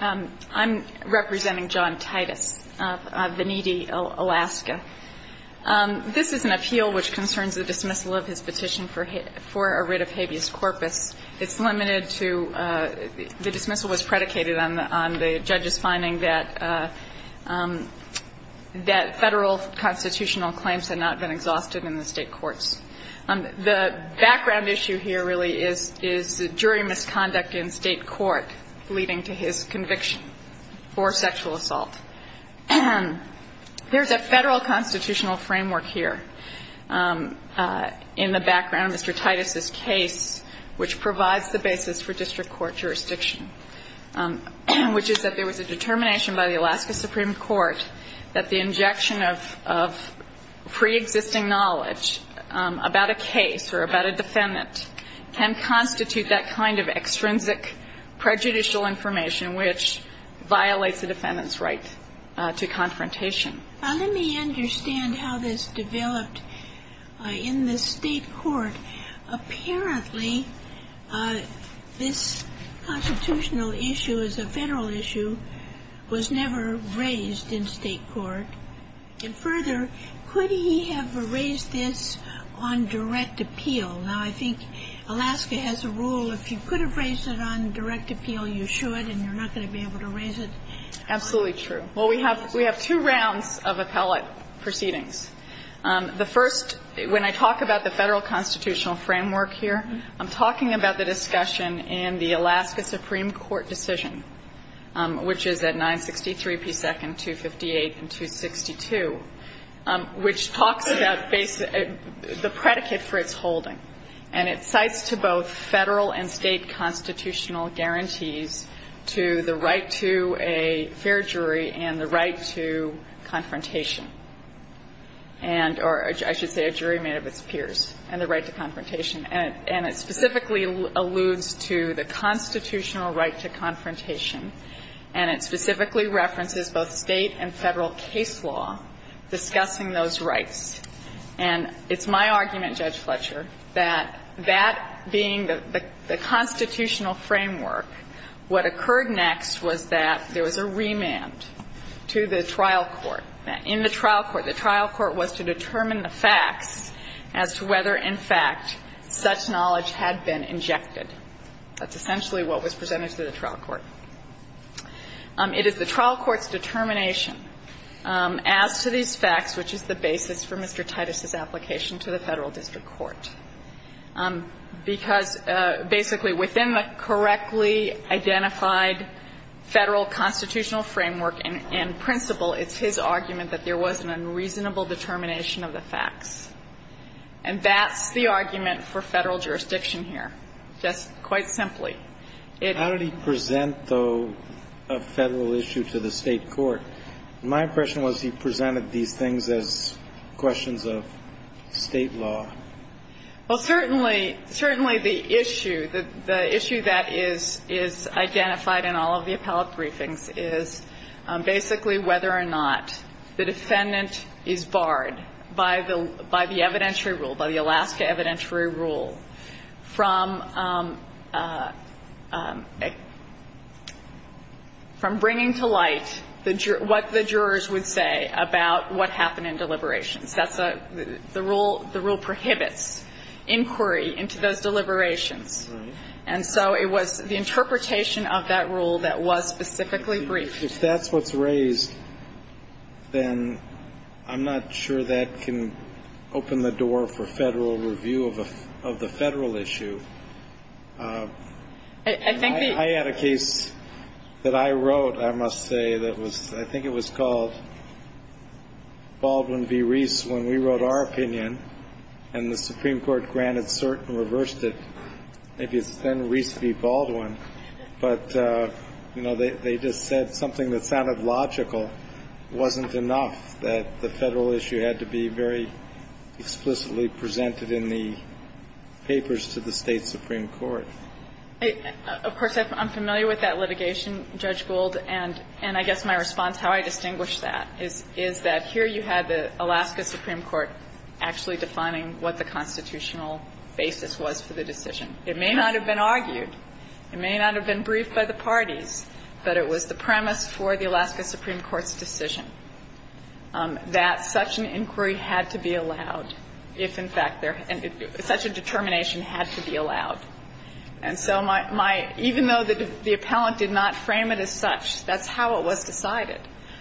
I'm representing John Titus of Veneti, Alaska. This is an appeal which concerns the dismissal of his petition for a writ of habeas corpus. It's limited to the dismissal was predicated on the judge's finding that federal constitutional claims had not been exhausted in the state courts. The background issue here really is jury misconduct in state court leading to his conviction for sexual assault. There's a federal constitutional framework here in the background of Mr. Titus's case, which provides the basis for district court jurisdiction, which is that there was a determination by the Alaska Supreme Court that the injection of a firearm into a defendant's body was not a crime. And so the fact that a federal constitutional claim about a case or about a defendant can constitute that kind of extrinsic prejudicial information, which violates a defendant's right to confrontation. Let me understand how this developed in the state court. Apparently, this constitutional issue is a federal issue, was never raised in state court. And further, could he have raised this on direct appeal? Now, I think Alaska has a rule if you could have raised it on direct appeal, you should, and you're not going to be able to raise it. Absolutely true. Well, we have two rounds of appellate proceedings. The first, when I talk about the federal constitutional framework here, I'm talking about the discussion in the Alaska Supreme Court decision, which is at 963p2, 258, and 262, which talks about the predicate for its holding. And it cites to both federal and state constitutional guarantees to the right to a fair and the right to confrontation and or, I should say, a jury made of its peers, and the right to confrontation. And it specifically alludes to the constitutional right to confrontation, and it specifically references both state and federal case law discussing those rights. And it's my argument, Judge Fletcher, that that being the constitutional framework, what occurred next was that there was a remand to the trial court. In the trial court, the trial court was to determine the facts as to whether, in fact, such knowledge had been injected. That's essentially what was presented to the trial court. It is the trial court's determination as to these facts, which is the basis for Mr. Titus's application to the Federal District Court. Because, basically, within the correctly identified Federal constitutional framework and principle, it's his argument that there was an unreasonable determination of the facts. And that's the argument for Federal jurisdiction here, just quite simply. It — How did he present, though, a Federal issue to the State court? My impression was he presented these things as questions of State law. Well, certainly, certainly the issue, the issue that is identified in all of the appellate briefings is basically whether or not the defendant is barred by the evidentiary rule, by the Alaska evidentiary rule, from bringing to light the jury's what the jurors would say about what happened in deliberations. That's a — the rule prohibits inquiry into those deliberations. Right. And so it was the interpretation of that rule that was specifically briefed. If that's what's raised, then I'm not sure that can open the door for Federal review of a — of the Federal issue. I think the — I had a case that I wrote, I must say, that was — I think it was called Baldwin v. Reese when we wrote our opinion, and the Supreme Court granted cert and reversed it. Maybe it's then Reese v. Baldwin. But, you know, they just said something that sounded logical wasn't enough, that the Federal issue had to be very explicitly presented in the papers to the State Supreme Court. Of course, I'm familiar with that litigation, Judge Gould, and I guess my response, how I distinguish that, is that here you had the Alaska Supreme Court actually defining what the constitutional basis was for the decision. It may not have been argued, it may not have been briefed by the parties, but it was the premise for the Alaska Supreme Court's decision that such an inquiry had to be And so my — even though the appellant did not frame it as such, that's how it was decided.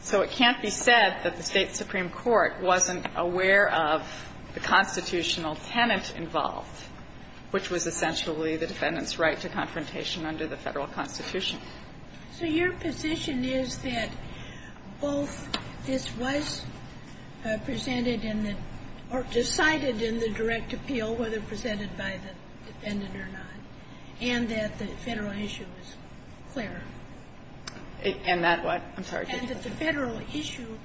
So it can't be said that the State Supreme Court wasn't aware of the constitutional tenant involved, which was essentially the defendant's right to confrontation under the Federal Constitution. Ginsburg. So your position is that both this was presented in the — or decided in the direct appeal, whether presented by the defendant or not, and that the Federal issue is clear? And that what? I'm sorry. And that the Federal issue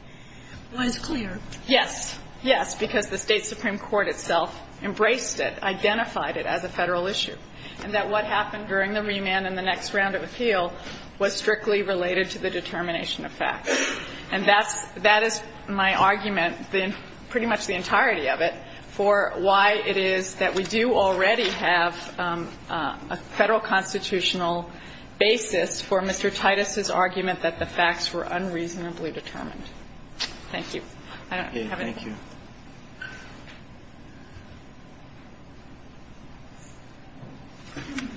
was clear. Yes. Yes. Because the State Supreme Court itself embraced it, identified it as a Federal issue, and that what happened during the remand and the next round of appeal was strictly related to the determination of facts. And that's — that is my argument, pretty much the entirety of it, for why it is that we do already have a Federal constitutional basis for Mr. Titus's argument that the facts were unreasonably determined. Thank you. I don't have anything else. Okay.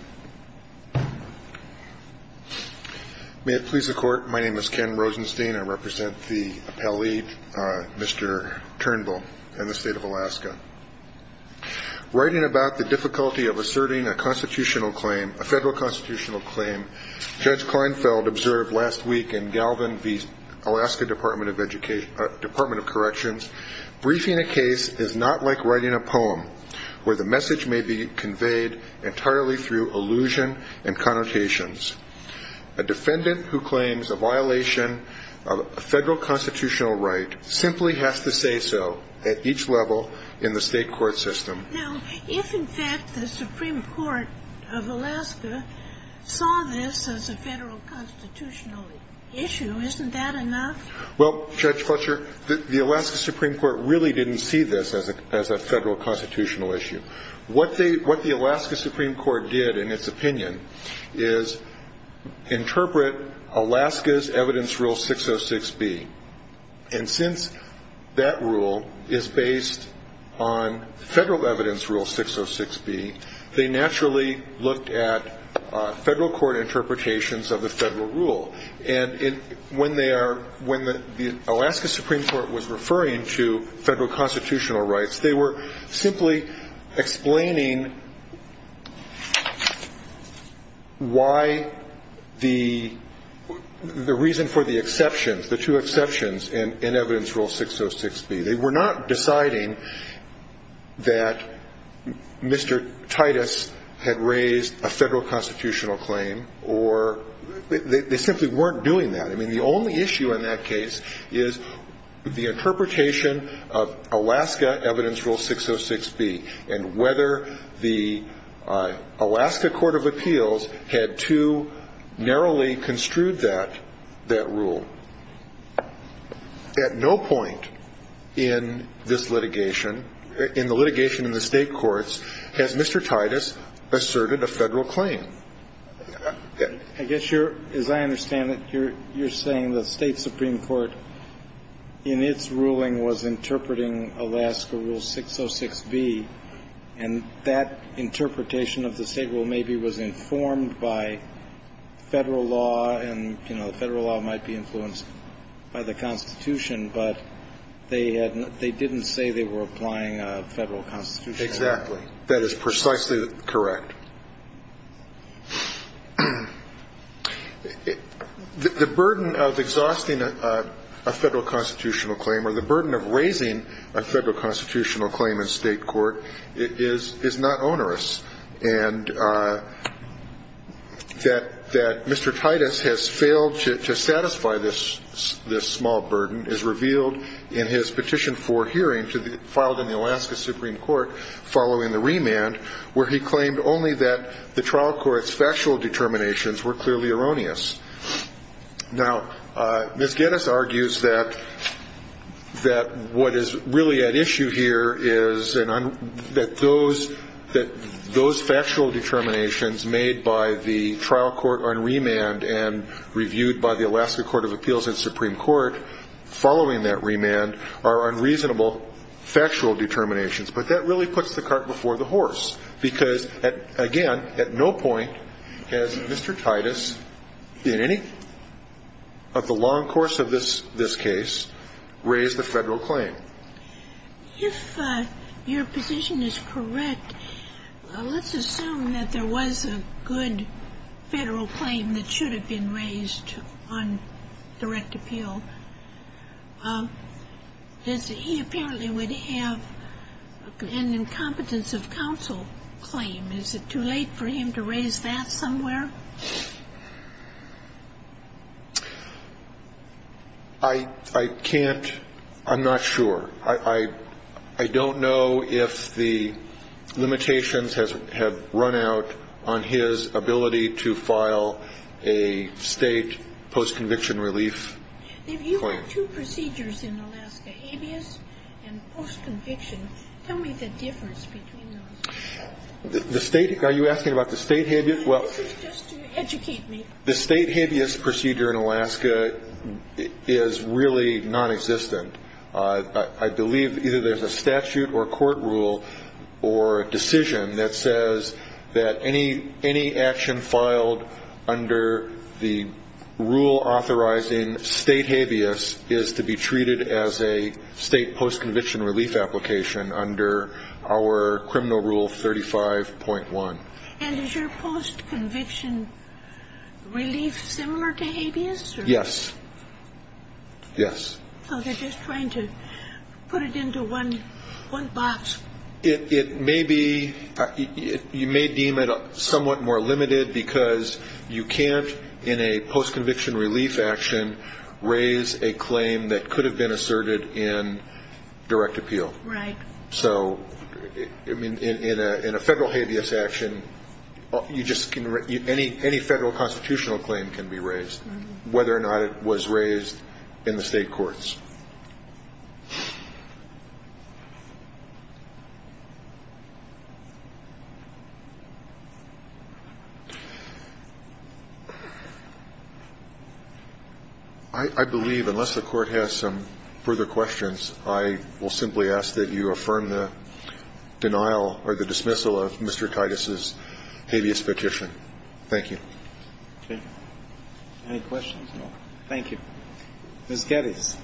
May it please the Court. My name is Ken Rosenstein. I represent the appellee, Mr. Turnbull, and the State of Alaska. Writing about the difficulty of asserting a constitutional claim, a Federal constitutional claim, Judge Kleinfeld observed last week in Galvin v. Alaska that asserting a case is not like writing a poem where the message may be conveyed entirely through allusion and connotations. A defendant who claims a violation of a Federal constitutional right simply has to say so at each level in the State court system. Now, if, in fact, the Supreme Court of Alaska saw this as a Federal constitutional issue, isn't that enough? Well, Judge Fletcher, the Alaska Supreme Court really didn't see this as a Federal constitutional issue. What the Alaska Supreme Court did in its opinion is interpret Alaska's evidence rule 606B. And since that rule is based on Federal evidence rule 606B, they naturally looked at Federal court interpretations of the Federal rule. And when they are – when the Alaska Supreme Court was referring to Federal constitutional rights, they were simply explaining why the – the reason for the exceptions, the two exceptions in evidence rule 606B. They were not deciding that Mr. Titus had raised a Federal constitutional claim or – they simply weren't doing that. I mean, the only issue in that case is the interpretation of Alaska evidence rule 606B and whether the Alaska court of appeals had too narrowly construed that – that rule. At no point in this litigation – in the litigation in the State courts has Mr. I guess you're – as I understand it, you're saying the State Supreme Court in its ruling was interpreting Alaska rule 606B, and that interpretation of the State rule maybe was informed by Federal law and, you know, Federal law might be influenced by the Constitution, but they had – they didn't say they were applying a Federal constitutional right. Exactly. That is precisely correct. The burden of exhausting a Federal constitutional claim or the burden of raising a Federal constitutional claim in State court is – is not onerous, and that – that Mr. Titus has failed to satisfy this – this small burden is revealed in his petition for hearing to the – filed in the Alaska Supreme Court following the remand, where he claimed only that the trial court's factual determinations were clearly erroneous. Now, Ms. Geddes argues that – that what is really at issue here is an – that those – that those factual determinations made by the trial court on remand and reasonable factual determinations, but that really puts the cart before the horse because, again, at no point has Mr. Titus in any of the long course of this – this case raised a Federal claim. If your position is correct, let's assume that there was a good Federal claim that should have been raised on direct appeal. He apparently would have an incompetence of counsel claim. Is it too late for him to raise that somewhere? I – I can't – I'm not sure. I – I don't know if the limitations have run out on his ability to file a State post-conviction relief. If you have two procedures in Alaska, habeas and post-conviction, tell me the difference between those. The State – are you asking about the State habeas? This is just to educate me. The State habeas procedure in Alaska is really nonexistent. I believe either there's a statute or a court rule or a decision that says that any action filed under the rule authorizing State habeas is to be treated as a State post-conviction relief application under our criminal rule 35.1. And is your post-conviction relief similar to habeas? Yes. Yes. So they're just trying to put it into one – one box. It may be – you may deem it somewhat more limited because you can't in a post-conviction relief action raise a claim that could have been asserted in direct appeal. Right. So in a – in a Federal habeas action, you just can – any Federal constitutional claim can be raised, whether or not it was raised in the State courts. I believe, unless the Court has some further questions, I will simply ask that you affirm the denial or the dismissal of Mr. Titus's habeas petition. Thank you. Okay. Any questions? No. Thank you. Ms. Geddes.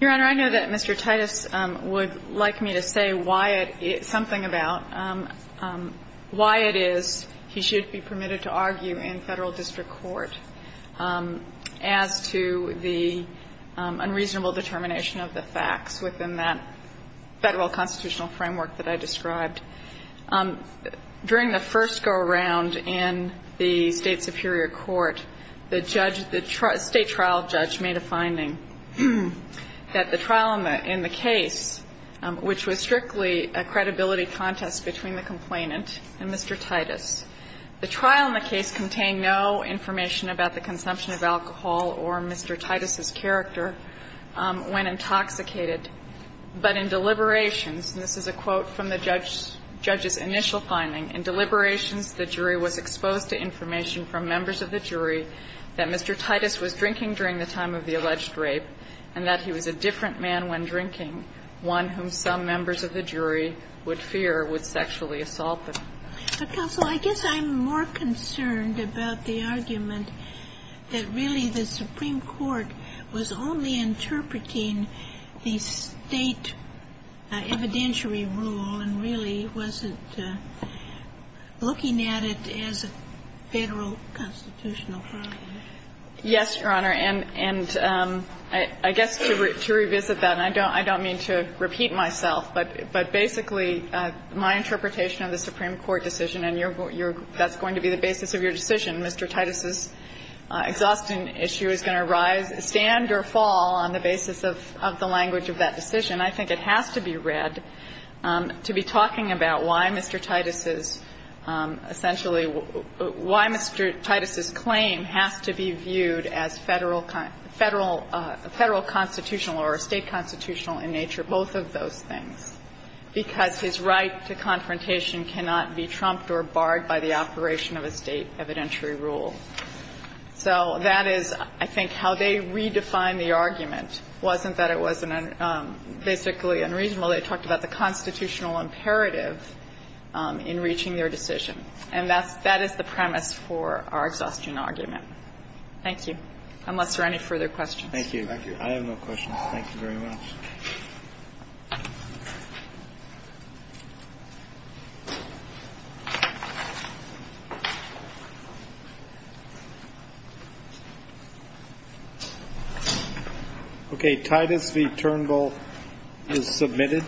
Your Honor, I know that Mr. Titus would like me to say why it – something about why it is he should be permitted to argue in Federal district court as to the unreasonable determination of the facts within that Federal constitutional framework that I described. During the first go-around in the State superior court, the judge – the State trial judge made a finding that the trial in the case, which was strictly a credibility contest between the complainant and Mr. Titus, the trial in the case contained no information about the consumption of alcohol or Mr. Titus's character when intoxicated, but in deliberations, and this is a quote from the judge's initial finding, in deliberations the jury was exposed to information from members of the jury that Mr. Titus was drinking during the time of the alleged rape and that he was a different man when drinking, one whom some members of the jury would fear would sexually assault them. But, counsel, I guess I'm more concerned about the argument that really the Supreme Court was only interpreting the State evidentiary rule and really wasn't looking at it as a Federal constitutional problem. Yes, Your Honor. And I guess to revisit that, and I don't mean to repeat myself, but basically my interpretation of the Supreme Court decision, and that's going to be the basis of your decision, Mr. Titus's exhaustion issue is going to rise, stand, or fall on the basis of the language of that decision, I think it has to be read to be talking about why Mr. Titus's, essentially, why Mr. Titus's claim has to be viewed as Federal constitutional or State constitutional in nature, both of those things, because his right to confrontation cannot be trumped or barred by the operation of a State evidentiary rule. So that is, I think, how they redefined the argument, wasn't that it was basically unreasonable. They talked about the constitutional imperative in reaching their decision. And that's the premise for our exhaustion argument. Thank you. Unless there are any further questions. Thank you. I have no questions. Thank you very much. Okay, Titus, the term goal is submitted.